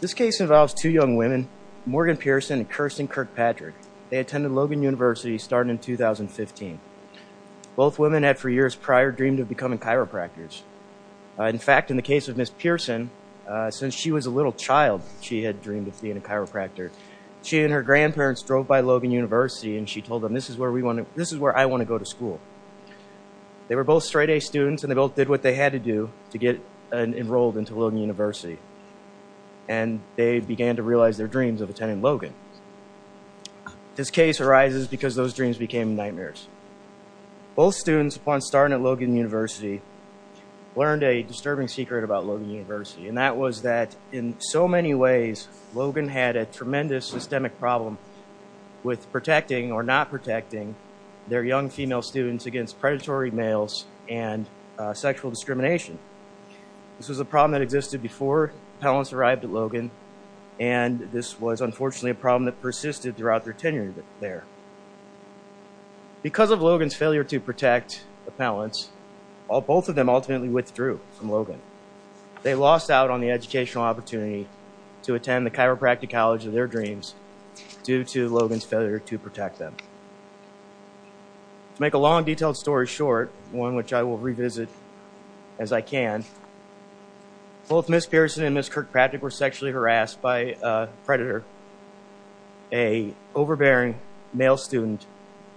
This case involves two young women, Morgan Pearson and Kirsten Kirkpatrick. They attended Logan University starting in 2015. Both women had for years prior dreamed of becoming chiropractors. In fact, in the case of Ms. Pearson, since she was a little child she had dreamed of being a chiropractor. She and her grandparents drove by Logan University and she told them, this is where I want to go to school. They were both straight A students and they both did what they had to do to get enrolled into Logan University. And they began to realize their dreams of attending Logan. This case arises because those dreams became nightmares. Both students upon starting at Logan University learned a disturbing secret about Logan University and that was that in so many ways Logan had a tremendous systemic problem with protecting or not protecting their young female students against predatory males and sexual discrimination. This was a problem that existed before parents arrived at Logan and this was unfortunately a problem that persisted throughout their tenure there. Because of Logan's failure to protect the parents, both of them ultimately withdrew from Logan. They lost out on the educational opportunity to attend the chiropractic college of their dreams due to Logan's failure to protect them. To make a long detailed story short, one which I will revisit as I can, both Ms. Pearson and Ms. Kirkpatrick were sexually harassed by a predator, an overbearing male student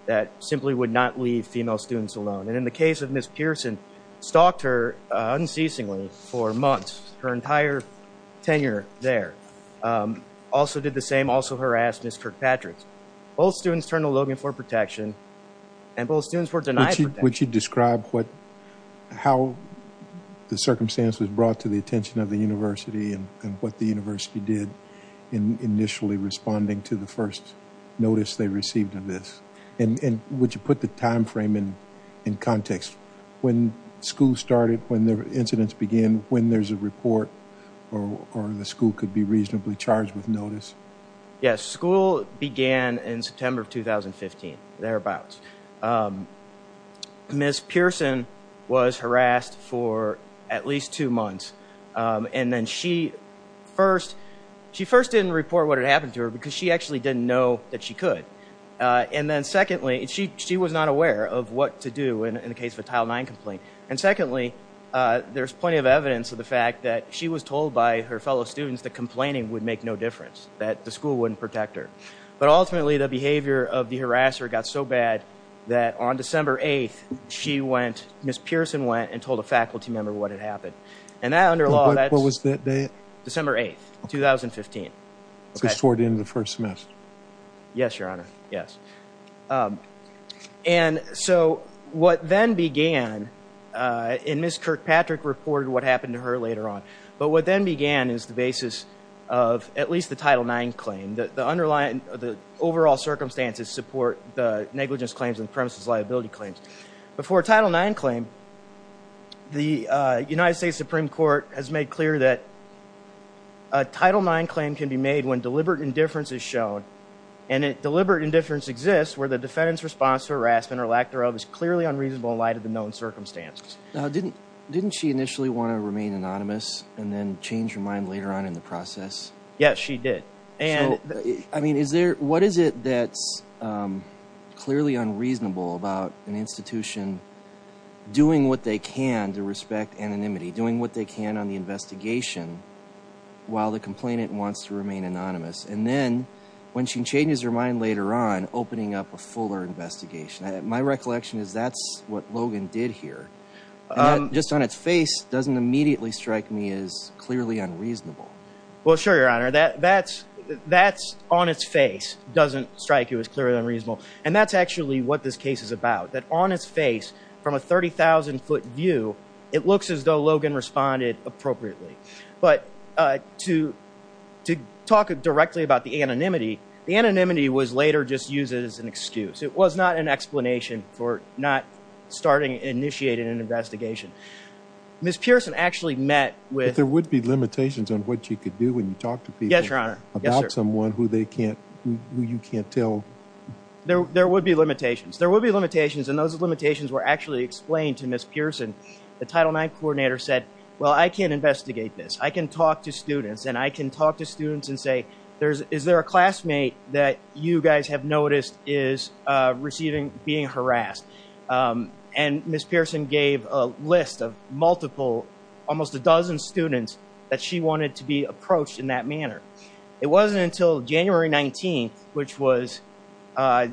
that simply would not leave female students alone. And in the case of Ms. Pearson, stalked her unceasingly for months, her entire tenure there. Also did the same, also harassed Ms. Kirkpatrick. Both students turned to Logan for protection and both students were denied protection. Would you describe what, how the circumstance was brought to the attention of the university and what the university did in initially responding to the first notice they received of this? And would you put the time frame in context? When school started, when the incidents began, when there's a report or the school could be reasonably charged with notice? Yes, school began in September of 2015, thereabouts. Ms. Pearson was harassed for at least two months. And then she first, she first didn't report what had happened to her because she actually didn't know that she could. And then secondly, she was not aware of what to do in the case of a Tile 9 complaint. And secondly, there's plenty of evidence of the fact that she was told by her fellow students that complaining would make no difference, that the school wouldn't protect her. But ultimately the behavior of the harasser got so bad that on December 8th, she went, Ms. Pearson went and told a faculty member what had happened. And that under law, What was that date? December 8th, 2015. So toward the end of the first semester. Yes, Your Honor. Yes. And so what then began, and Ms. Kirkpatrick reported what happened to her later on. But what then began is the basis of at least the Tile 9 claim. The underlying, the overall circumstances support the negligence claims and premises liability claims. But for a Tile 9 claim, the United States Supreme Court has made clear that a Tile 9 claim can be made when deliberate indifference is shown. And deliberate indifference exists where the defendant's response to harassment or lack thereof is clearly unreasonable in light of the known circumstances. Now, didn't, didn't she initially want to remain anonymous and then change her mind later on in the process? Yes, she did. And I mean, is there, what is it that's clearly unreasonable about an institution doing what they can to respect anonymity, doing what they can on the investigation while the complainant wants to remain anonymous. And then when she changes her mind later on, opening up a fuller investigation, my recollection is that's what Logan did here. And that just on its face doesn't immediately strike me as clearly unreasonable. Well, sure, Your Honor. That, that's, that's on its face doesn't strike you as clearly unreasonable. And that's actually what this case is about. That on its face, from a 30,000-foot view, it looks as though Logan responded appropriately. But to, to talk directly about the anonymity, the anonymity was later just used as an excuse. It was not an explanation for not starting, initiating an investigation. Ms. Pearson actually met with... But there would be limitations on what you could do when you talk to people... Yes, Your Honor. Yes, sir. ...about someone who they can't, who you can't tell. There, there would be limitations. There would be limitations, and those limitations were actually explained to Ms. Pearson. The Title IX coordinator said, well, I can't investigate this. I can talk to students, and I can talk to students and say, there's, is there a classmate that you guys have noticed is receiving, being harassed? And Ms. Pearson gave a list of multiple, almost a dozen students that she wanted to be approached in that manner. It wasn't until January 19th, which was at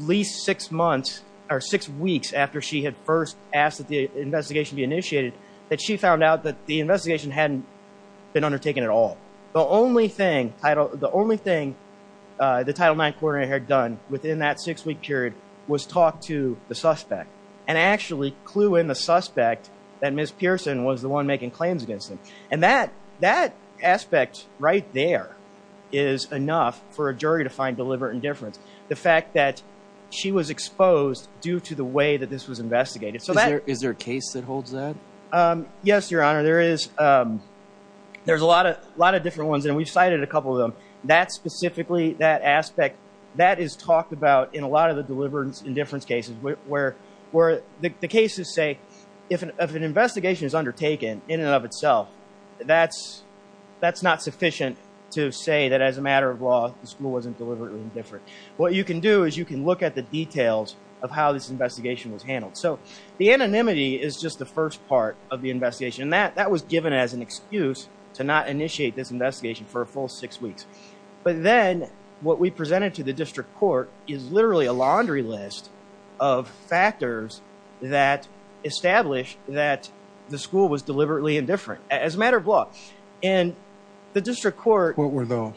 least six months or six weeks after she had first asked that the investigation be initiated, that she found out that the investigation hadn't been undertaken at all. The only thing Title, the only thing the Title IX coordinator had done within that six-week period was talk to the suspect, and actually clue in the suspect that Ms. Pearson was the one making claims against them. And that, that aspect right there is enough for a jury to find deliberate indifference. The fact that she was exposed due to the way that this was investigated. So that... Is there, is there a case that holds that? Um, yes, Your Honor. There is, um, there's a lot of, a lot of different ones, and we've cited a couple of them. That specifically, that aspect, that is talked about in a lot of the deliberate indifference cases, where, where the cases say, if an investigation is undertaken in and of itself, that's, that's not sufficient to say that as a matter of law, the school wasn't deliberately indifferent. What you can do is you can look at the details of how this investigation was handled. So, the anonymity is just the first part of the investigation. And that, that was given as an excuse to not initiate this investigation for a full six weeks. But then, what we presented to the district court is literally a laundry list of factors that established that the school was deliberately indifferent, as a matter of law. And the district court... What were those?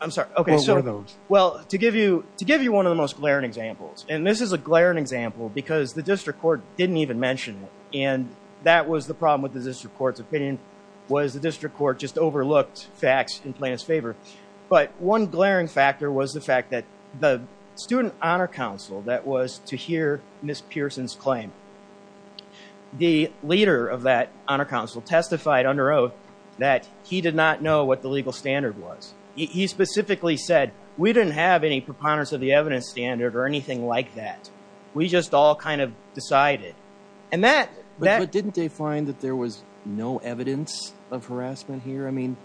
I'm sorry, okay, so... What were those? Well, to give you, to give you one of the most glaring examples, and this is a glaring example because the district court didn't even mention it, and that was the problem with the district court's opinion, was the district court just overlooked facts in plaintiff's favor. But one glaring factor was the fact that the student honor council that was to hear Miss Pearson's claim, the leader of that honor council testified under oath that he did not know what the legal standard was. He specifically said, we didn't have any preponderance of the evidence standard or anything like that. We just all kind of decided. And that... But didn't they find that there was no evidence of harassment here? I mean,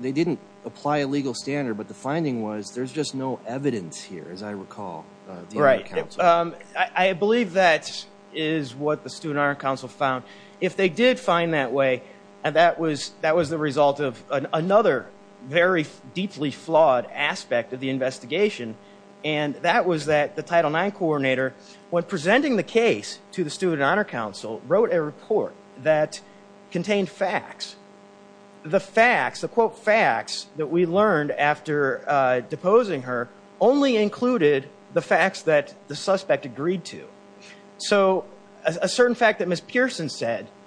they didn't apply a legal standard, but the finding was there's just no evidence here, as I recall, of the honor council. Right. I believe that is what the student honor council found. If they did find that way, and that was, that was the result of another very deeply flawed aspect of the investigation, and that was that the Title IX coordinator, when presenting the case to the student honor council, wrote a report that contained facts. The facts, the quote facts, that we learned after deposing her only included the facts that the suspect agreed to. So a certain fact that Miss Pearson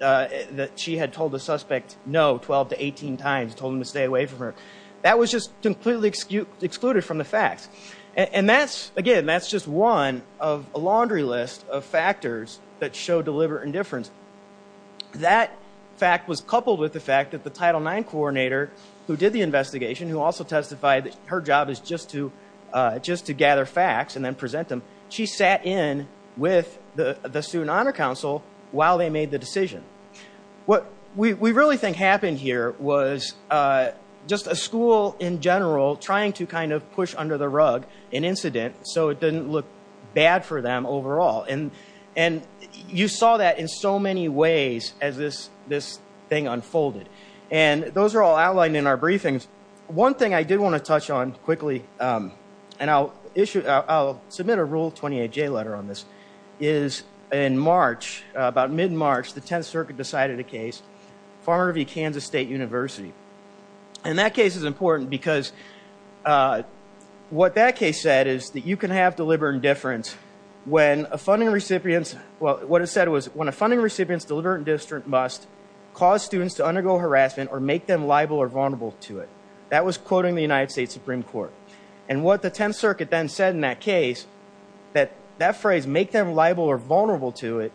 let the suspect know 12 to 18 times, told him to stay away from her. That was just completely excluded from the facts. And that's, again, that's just one of a laundry list of factors that show deliberate indifference. That fact was coupled with the fact that the Title IX coordinator, who did the investigation, who also testified that her job is just to gather facts and then present them, she sat in with the student honor council while they made the decision. What we really think happened here was just a school in general trying to kind of push under the rug an incident so it didn't look bad for them overall. And you saw that in so many ways as this thing unfolded. And those are all outlined in our briefings. One thing I did want to touch on quickly, and I'll issue, I'll submit a Rule 28J letter on this, is in March, about mid-March, the Tenth Circuit decided a case, Farmer v. Kansas State University. And that case is important because what that case said is that you can have deliberate indifference when a funding recipient, well, what it said was, when a funding recipient's deliberate indifference must cause students to undergo harassment or make them liable or vulnerable to it. That was quoting the United States Supreme Court. And what the Tenth Circuit then said in that case, that that phrase, make them liable or vulnerable to it,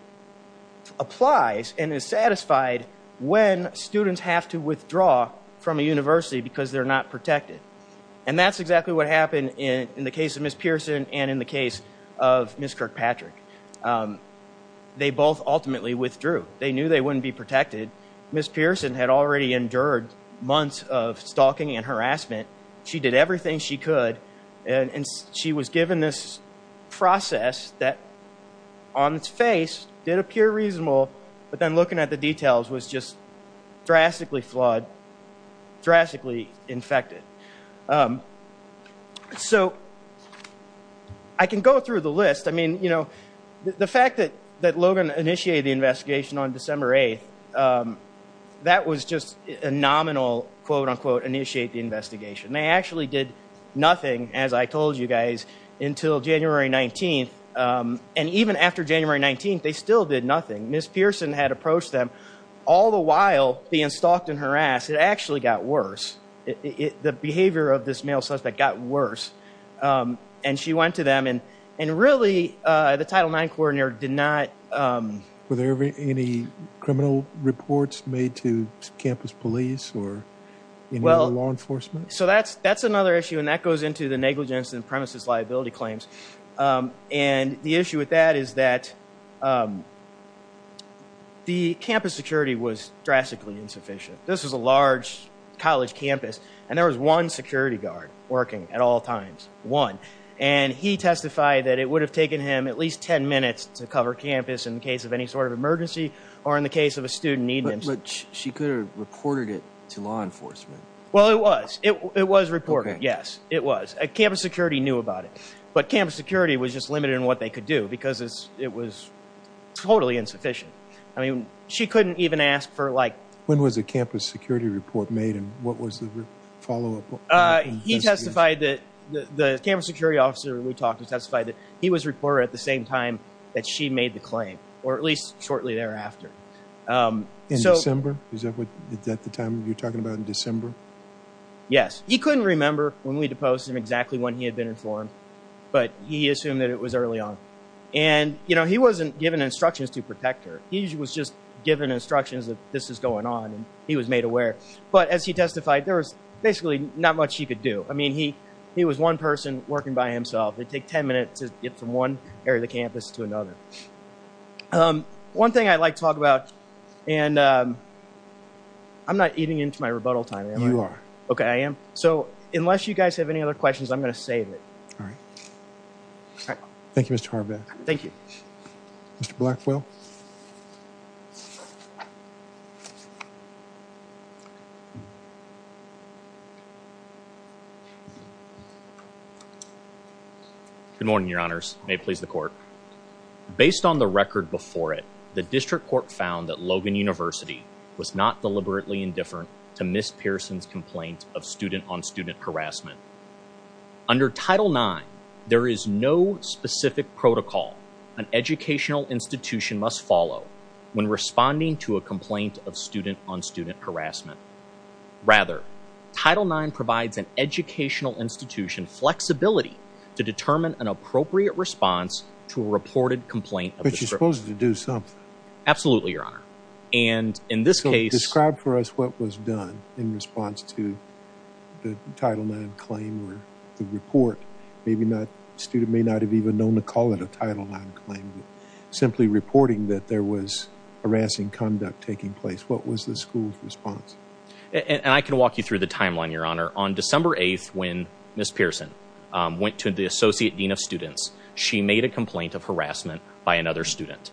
applies and is satisfied when students have to withdraw from a university because they're not protected. And that's exactly what happened in the case of Ms. Pearson and in the case of Ms. Kirkpatrick. They both ultimately withdrew. They knew they wouldn't be protected. Ms. Pearson had already endured months of stalking and harassment. She did everything she could, and she was given this process that, on its face, did appear reasonable, but then looking at the details was just drastically flawed, drastically infected. So I can go through the list. I mean, you know, the fact that Logan initiated the investigation on December 8th, that was just a nominal, quote, unquote, initiate the investigation. They actually did nothing, as I told you guys, until January 19th. And even after January 19th, they still did nothing. Ms. Pearson had approached them, all the while being stalked and harassed. It actually got worse. The behavior of this male suspect got worse. And she went to and really the Title IX coordinator did not... Were there any criminal reports made to campus police or law enforcement? So that's another issue, and that goes into the negligence and premises liability claims. And the issue with that is that the campus security was drastically insufficient. This was a large college campus, and there was one security guard working at all times, one. And he testified that it would have taken him at least 10 minutes to cover campus in case of any sort of emergency or in the case of a student need. But she could have reported it to law enforcement. Well, it was. It was reported. Yes, it was. Campus security knew about it. But campus security was just limited in what they could do because it was totally insufficient. I mean, she couldn't even ask for, like... When was the campus security report made, and what was the follow-up? He testified that the campus security officer we talked to testified that he was reported at the same time that she made the claim, or at least shortly thereafter. In December? Is that the time you're talking about, in December? Yes. He couldn't remember when we deposed him exactly when he had been informed, but he assumed that it was early on. And he wasn't given instructions to protect her. He was just given instructions that this is going on, and he was made aware. But as he testified, there was basically not much he could do. I mean, he was one person working by himself. It'd take 10 minutes to get from one area of the campus to another. One thing I'd like to talk about, and I'm not eating into my rebuttal time, am I? You are. Okay, I am. So unless you guys have any other questions, I'm going to save it. All right. Thank you, Mr. Harbaugh. Thank you. Mr. Blackwell? Good morning, Your Honors. May it please the Court. Based on the record before it, the District Court found that Logan University was not deliberately indifferent to Ms. Pearson's complaint of student-on-student harassment. Under Title IX, there is no specific protocol an educational institution must follow when responding to a complaint of student-on-student harassment. Rather, Title IX provides an educational institution flexibility to determine an appropriate response to a reported complaint. But you're supposed to do something. Absolutely, Your Honor. And in this case... So describe for us what was done in response to the Title IX claim or the report. Maybe not... A student may not have even known to call it a Title IX claim, but simply reporting that there was harassing conduct taking place, what was the school's response? And I can walk you through the timeline, Your Honor. On December 8th, when Ms. Pearson went to the Associate Dean of Students, she made a complaint of harassment by another student.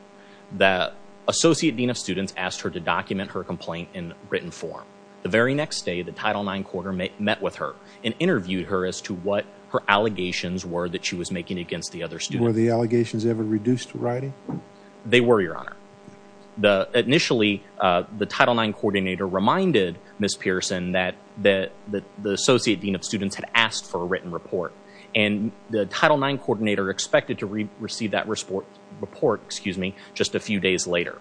The Associate Dean of Students asked her to document her complaint in written form. The very next day, the Title IX Coordinator met with her and interviewed her as to what her allegations were that she was making against the other student. Were the allegations ever reduced to writing? They were, Your Honor. Initially, the Title IX Coordinator reminded Ms. Pearson that the Associate Dean of Students had asked for a written report, and the Title IX Coordinator expected to receive that report just a few days later.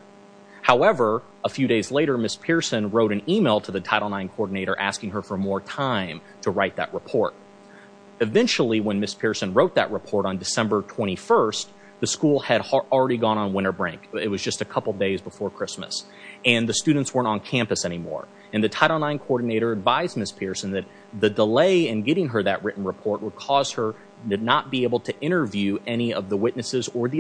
However, a few days later, Ms. Pearson wrote an email to the Title IX Coordinator asking her for more time to write that report. Eventually, when Ms. Pearson wrote that report on December 21st, the school had already gone on winter break. It was just a couple days before Christmas, and the students weren't on campus anymore. And the Title IX Coordinator advised Ms. Pearson that the delay in getting her that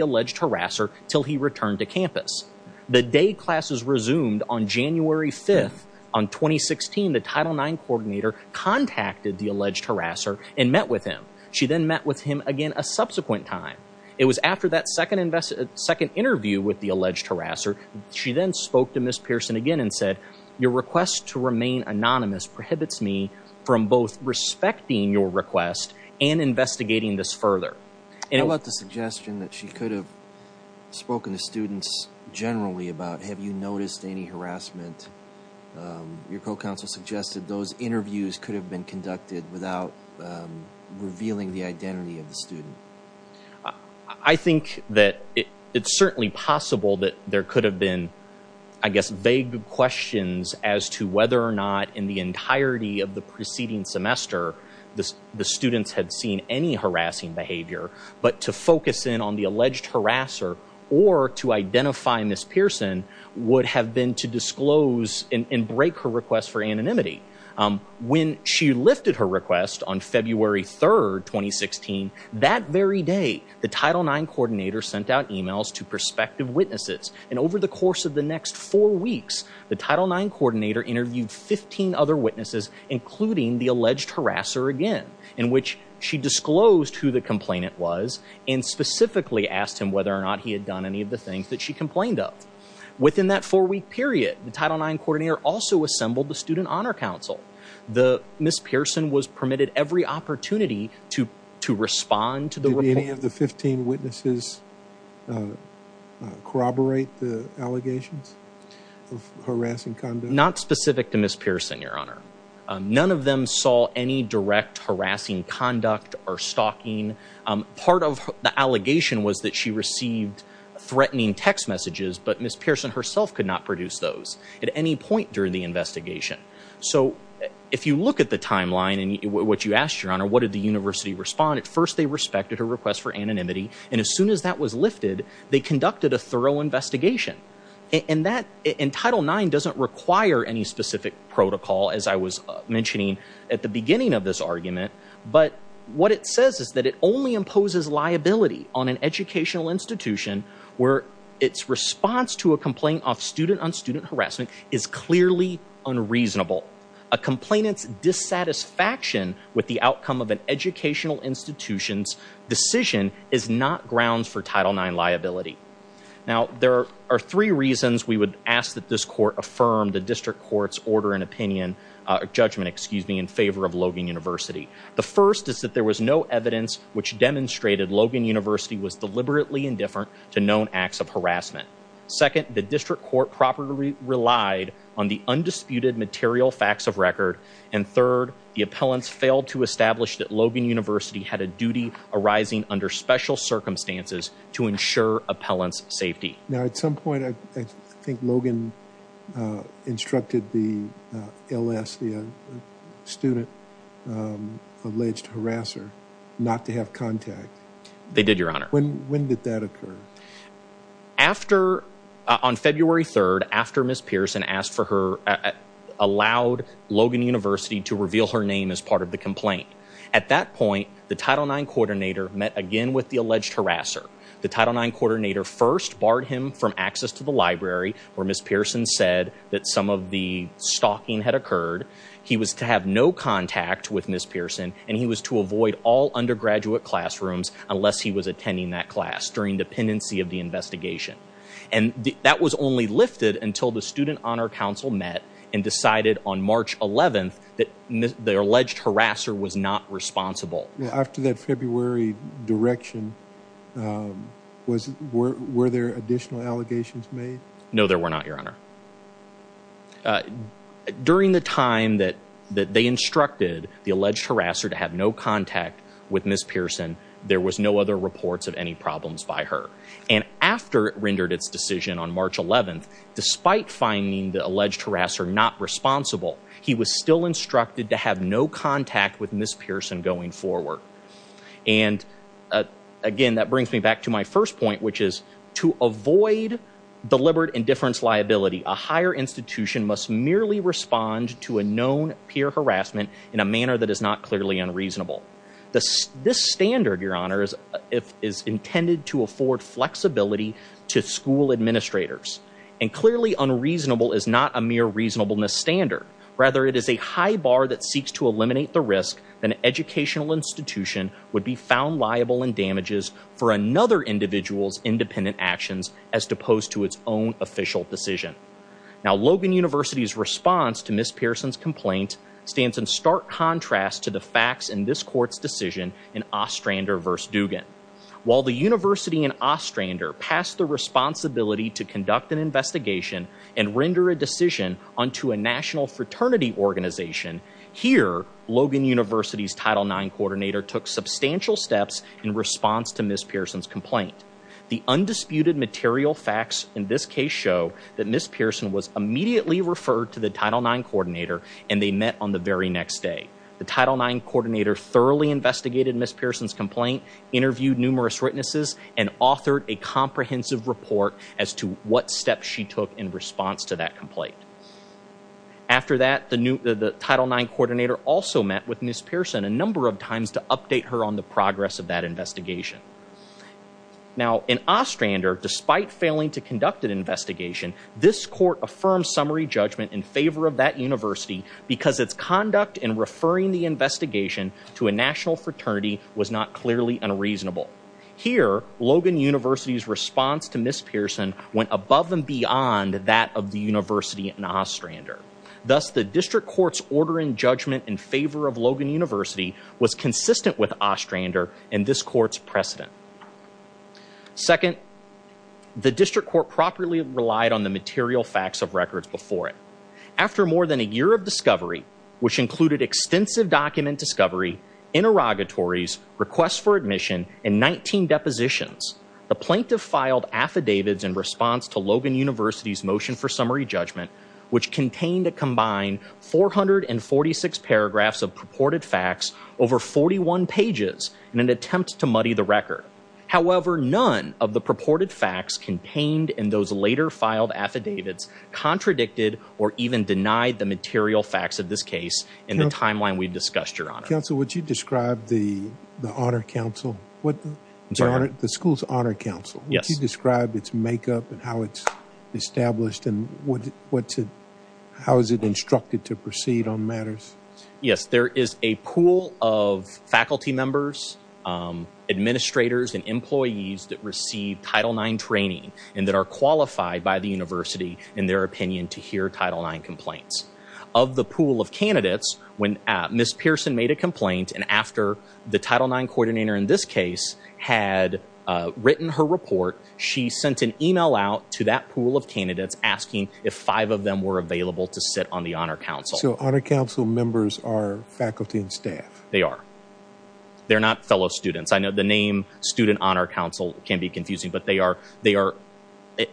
alleged harasser until he returned to campus. The day classes resumed on January 5th, on 2016, the Title IX Coordinator contacted the alleged harasser and met with him. She then met with him again a subsequent time. It was after that second interview with the alleged harasser, she then spoke to Ms. Pearson again and said, your request to remain anonymous prohibits me from both respecting your request and investigating this further. How about the suggestion that she could have spoken to students generally about, have you noticed any harassment? Your co-counsel suggested those interviews could have been conducted without revealing the identity of the student. I think that it's certainly possible that there could have been, I guess, vague questions as to to focus in on the alleged harasser or to identify Ms. Pearson would have been to disclose and break her request for anonymity. When she lifted her request on February 3rd, 2016, that very day, the Title IX Coordinator sent out emails to prospective witnesses. And over the course of the next four weeks, the Title IX Coordinator interviewed 15 other and specifically asked him whether or not he had done any of the things that she complained of. Within that four-week period, the Title IX Coordinator also assembled the Student Honor Council. Ms. Pearson was permitted every opportunity to respond to the report. Did any of the 15 witnesses corroborate the allegations of harassing conduct? Not specific to Ms. Pearson, your honor. None of them saw any direct harassing conduct or stalking. Part of the allegation was that she received threatening text messages, but Ms. Pearson herself could not produce those at any point during the investigation. So if you look at the timeline and what you asked, your honor, what did the university respond? At first, they respected her request for anonymity. And as soon as that was lifted, they conducted a thorough investigation. And that, in Title IX, doesn't require any specific protocol, as I was mentioning at the beginning of this argument. But what it says is that it only imposes liability on an educational institution where its response to a complaint of student-on-student harassment is clearly unreasonable. A complainant's dissatisfaction with the outcome of an educational institution's decision is not grounds for Title IX liability. Now, there are three reasons we would ask that this court affirm the district court's order and judgment in favor of Logan University. The first is that there was no evidence demonstrating Logan University was deliberately indifferent to known acts of harassment. Second, the district court properly relied on the undisputed material facts of record. And third, the appellants failed to establish that Logan University had a duty arising under special circumstances to ensure appellants' safety. Now, at some point, I think Logan instructed the Alessia student-alleged harasser not to have contact. They did, Your Honor. When did that occur? After, on February 3rd, after Ms. Pearson asked for her, allowed Logan University to reveal her name as part of the complaint. At that point, the Title IX coordinator met again with the alleged harasser. The Title IX coordinator first barred him from access to the library where Ms. Pearson had occurred. He was to have no contact with Ms. Pearson, and he was to avoid all undergraduate classrooms unless he was attending that class during dependency of the investigation. And that was only lifted until the Student Honor Council met and decided on March 11th that the alleged harasser was not responsible. After that February direction, were there additional allegations made? No, there were not, Your Honor. During the time that they instructed the alleged harasser to have no contact with Ms. Pearson, there was no other reports of any problems by her. And after it rendered its decision on March 11th, despite finding the alleged harasser not responsible, he was still instructed to have no contact with Ms. Pearson going forward. And again, that brings me back to my first point, which is to avoid deliberate indifference liability. A higher institution must merely respond to a known peer harassment in a manner that is not clearly unreasonable. This standard, Your Honor, is intended to afford flexibility to school administrators. And clearly unreasonable is not a mere reasonableness standard. Rather, it is a high bar that seeks to eliminate the risk that an educational institution would be found liable in damages for another individual's actions as opposed to its own official decision. Now, Logan University's response to Ms. Pearson's complaint stands in stark contrast to the facts in this court's decision in Ostrander v. Dugan. While the university in Ostrander passed the responsibility to conduct an investigation and render a decision unto a national fraternity organization, here Logan University's Title IX coordinator took substantial steps in response to Ms. Pearson's complaint. The undisputed material facts in this case show that Ms. Pearson was immediately referred to the Title IX coordinator and they met on the very next day. The Title IX coordinator thoroughly investigated Ms. Pearson's complaint, interviewed numerous witnesses, and authored a comprehensive report as to what steps she took in response to that complaint. After that, the Title IX coordinator also met with Ms. Pearson several times to update her on the progress of that investigation. Now, in Ostrander, despite failing to conduct an investigation, this court affirmed summary judgment in favor of that university because its conduct in referring the investigation to a national fraternity was not clearly unreasonable. Here, Logan University's response to Ms. Pearson went above and beyond that of the university in Ostrander. Thus, the district court's order in judgment in favor of Logan University was consistent with Ostrander and this court's precedent. Second, the district court properly relied on the material facts of records before it. After more than a year of discovery, which included extensive document discovery, interrogatories, requests for admission, and 19 depositions, the plaintiff filed affidavits in summary judgment, which contained a combined 446 paragraphs of purported facts, over 41 pages, in an attempt to muddy the record. However, none of the purported facts contained in those later filed affidavits contradicted or even denied the material facts of this case in the timeline we've discussed, Your Honor. Counsel, would you describe the Honor Council, the school's Honor Council? Yes. Would you describe its makeup and how it's established and what's it, how is it instructed to proceed on matters? Yes, there is a pool of faculty members, administrators, and employees that receive Title IX training and that are qualified by the university in their opinion to hear Title IX complaints. Of the pool of candidates, when Ms. Pearson made a complaint and after the Title IX coordinator in this case had written her report, she sent an email out to that pool of candidates asking if five of them were available to sit on the Honor Council. So Honor Council members are faculty and staff? They are. They're not fellow students. I know the name, Student Honor Council, can be confusing, but they are, they are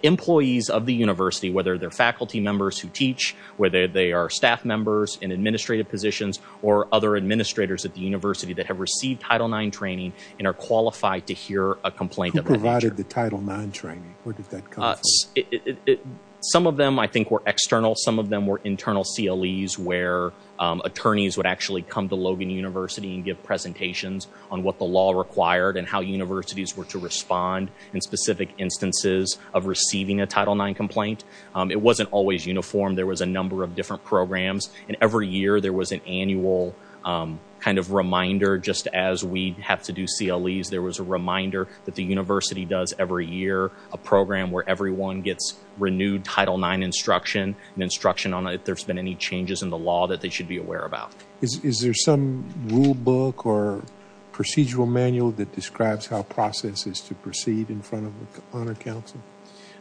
employees of the university, whether they're faculty members who teach, whether they are staff members in administrative positions, or other administrators at the university that have received Title IX training and are qualified to hear a complaint. Who provided the Title IX training? Where did that come from? Some of them, I think, were external. Some of them were internal CLEs where attorneys would actually come to Logan University and give presentations on what the law required and how universities were to respond in specific instances of receiving a Title IX complaint. It wasn't always uniform. There was a number of different programs and every year there was an annual kind of reminder just as we have to do CLEs. There was a reminder that the university does every year, a program where everyone gets renewed Title IX instruction and instruction on if there's been any changes in the law that they should be aware about. Is there some rule book or procedural manual that describes how process is to proceed in front of the Honor Council?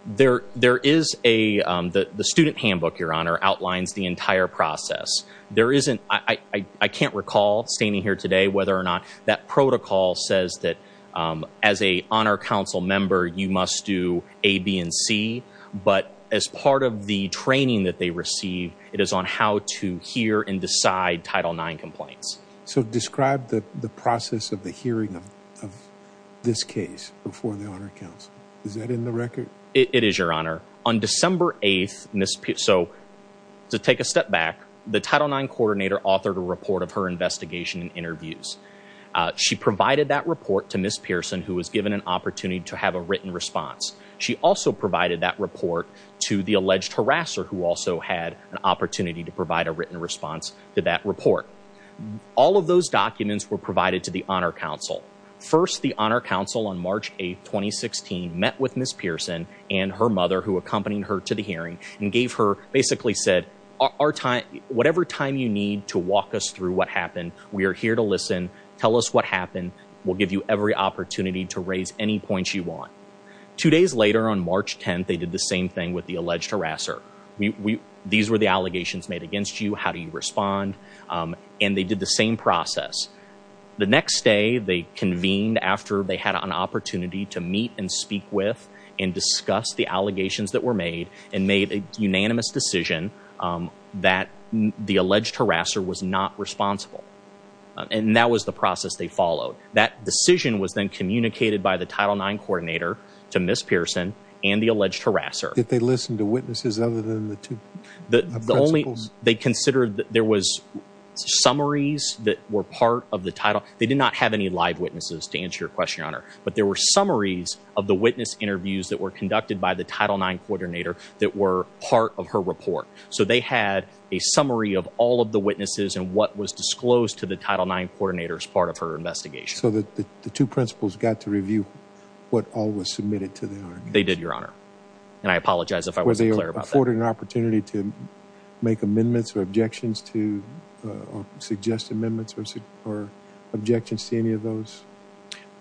There is a, the student handbook, Your Honor, outlines the entire process. There isn't, I can't recall standing here today whether or not that protocol says that as a Honor Council member you must do A, B, and C, but as part of the training that they receive it is on how to hear and decide Title IX complaints. So describe the process of the hearing of this case before the Honor Council. Is that in the record? It is, Your Honor. On December 8th, Ms. Pearson, so to take a step back, the Title IX coordinator authored a report of her investigation and interviews. She provided that report to Ms. Pearson who was given an opportunity to have a written response. She also provided that report to the alleged harasser who also had an opportunity to provide a written response to that report. All of those documents were provided to the Honor Council. First, the Honor Council on March 8th, 2016 met with Ms. Pearson and her mother who accompanied her to the hearing and gave her, basically said, our time, whatever time you need to walk us through what happened, we are here to listen, tell us what happened, we'll give you every opportunity to raise any points you want. Two days later on March 10th, they did the same thing with the alleged harasser. We, we, these were the allegations made against you, how do you they convened after they had an opportunity to meet and speak with and discuss the allegations that were made and made a unanimous decision that the alleged harasser was not responsible and that was the process they followed. That decision was then communicated by the Title IX coordinator to Ms. Pearson and the alleged harasser. Did they listen to witnesses other than the two? The only, they considered that there was summaries that were part of the title, they did not have any live witnesses to answer your question, Your Honor, but there were summaries of the witness interviews that were conducted by the Title IX coordinator that were part of her report. So they had a summary of all of the witnesses and what was disclosed to the Title IX coordinator as part of her investigation. So the two principals got to review what all was submitted to the argument? They did, Your Honor, and I apologize if I wasn't clear about that. Were they afforded an opportunity to suggest amendments or objections to any of those?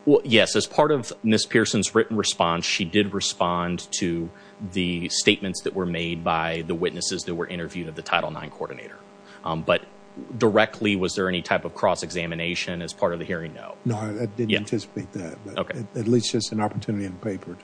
Well, yes, as part of Ms. Pearson's written response, she did respond to the statements that were made by the witnesses that were interviewed of the Title IX coordinator, but directly was there any type of cross-examination as part of the hearing? No. No, I didn't anticipate that, but at least just an opportunity in paper.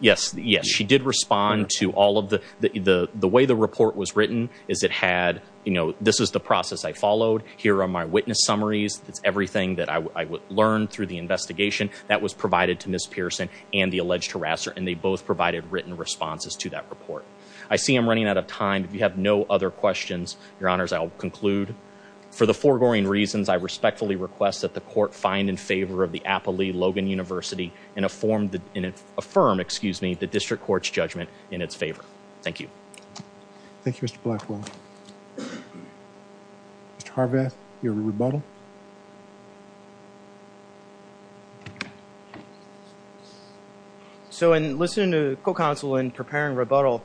Yes, yes, she did respond to all of the, the way the report was written is it had, you know, this is the process I followed. Here are my witness summaries. It's everything that I would learn through the investigation that was provided to Ms. Pearson and the alleged harasser, and they both provided written responses to that report. I see I'm running out of time. If you have no other questions, Your Honors, I'll conclude. For the foregoing reasons, I respectfully request that the court find in favor of the Applee-Logan University and affirm, excuse me, the District Court's judgment in its favor. Thank you. Thank you, Mr. Blackwell. Mr. Harvath, your rebuttal? So in listening to Co-Counsel in preparing rebuttal,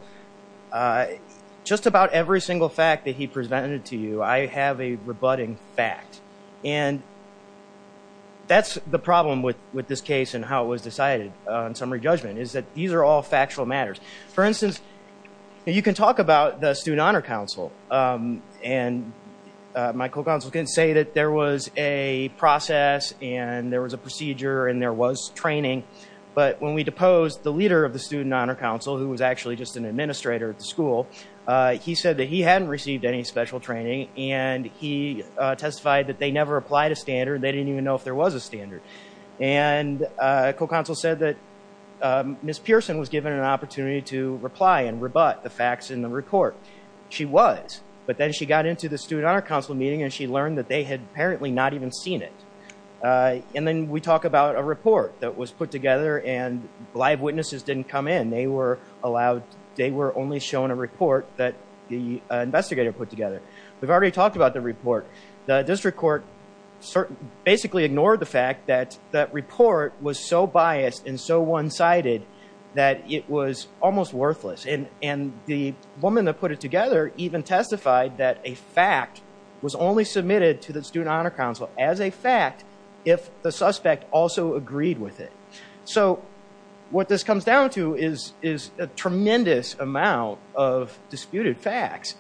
just about every single fact that he presented to you, I have a rebutting fact, and that's the problem with, with this case and how it was decided on summary judgment is that these are all factual matters. For instance, you can talk about the Student Honor Council, and my Co-Counsel can say that there was a process, and there was a procedure, and there was training, but when we deposed the leader of the Student Honor Council, who was actually just an administrator at the school, he said that he hadn't received any special training, and he testified that they never applied a standard. They didn't even know if there was a standard, and Co-Counsel said that Ms. Pearson was given an opportunity to reply and rebut the facts in the report. She was, but then she got into the Student Honor Council meeting, and she learned that they had apparently not even seen it, and then we talk about a report that was put together, and live witnesses didn't come in. They were allowed, they were only shown a report that the investigator put together. We've already talked about the report. The District Court basically ignored the fact that that report was so biased and so one-sided that it was almost worthless, and the woman that put it together even testified that a fact was only submitted to the Student Honor Council as a fact if the suspect also agreed with it. So what this comes down to is a tremendous amount of disputed facts,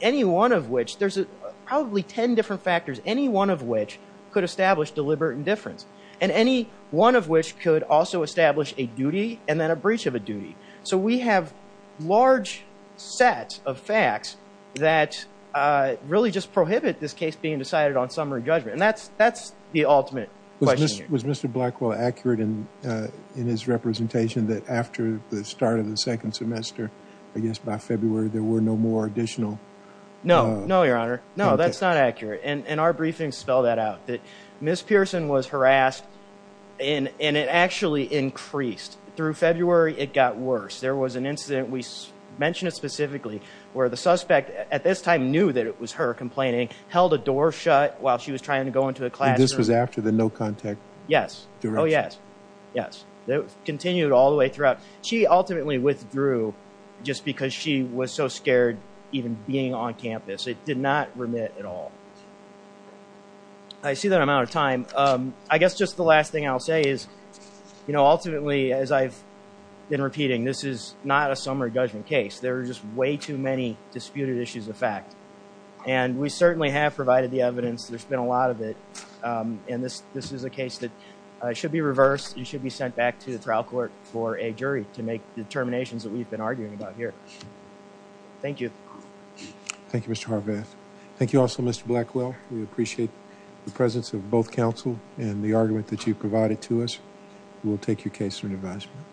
any one of which, there's probably 10 different factors, any one of which could establish deliberate indifference, and any one of which could also establish a duty and then a breach of a duty. So we have large sets of facts that really just prohibit this case being decided on summary judgment, and that's the ultimate question here. Was Mr. Blackwell accurate in his representation that after the start of the second semester, I guess by February, there were no more additional... No, no, Your Honor. No, that's not accurate, and our briefing spelled that out, that Ms. Pearson was harassed, and it actually increased. Through February, it got worse. There was an incident, we mentioned it specifically, where the suspect at this time knew that it was her complaining, held a door shut while she was trying to go into a classroom. And this was after the no contact direction? Yes. Oh, yes. Yes. It continued all the way throughout. She ultimately withdrew just because she was so scared even being on campus. It did not remit at all. I see that I'm out of time. I guess just the last thing I'll say is, ultimately, as I've been repeating, this is not a summary judgment case. There are just way too many disputed issues of fact, and we certainly have provided the evidence. There's been a lot of it, and this is a case that should be reversed. It should be sent back to the trial court for a jury to make determinations that we've been arguing about here. Thank you. Thank you, Mr. Harvath. Thank you also, Mr. Blackwell. We appreciate the presence of both counsel and the argument that you provided to us. We will take your case for an advisement.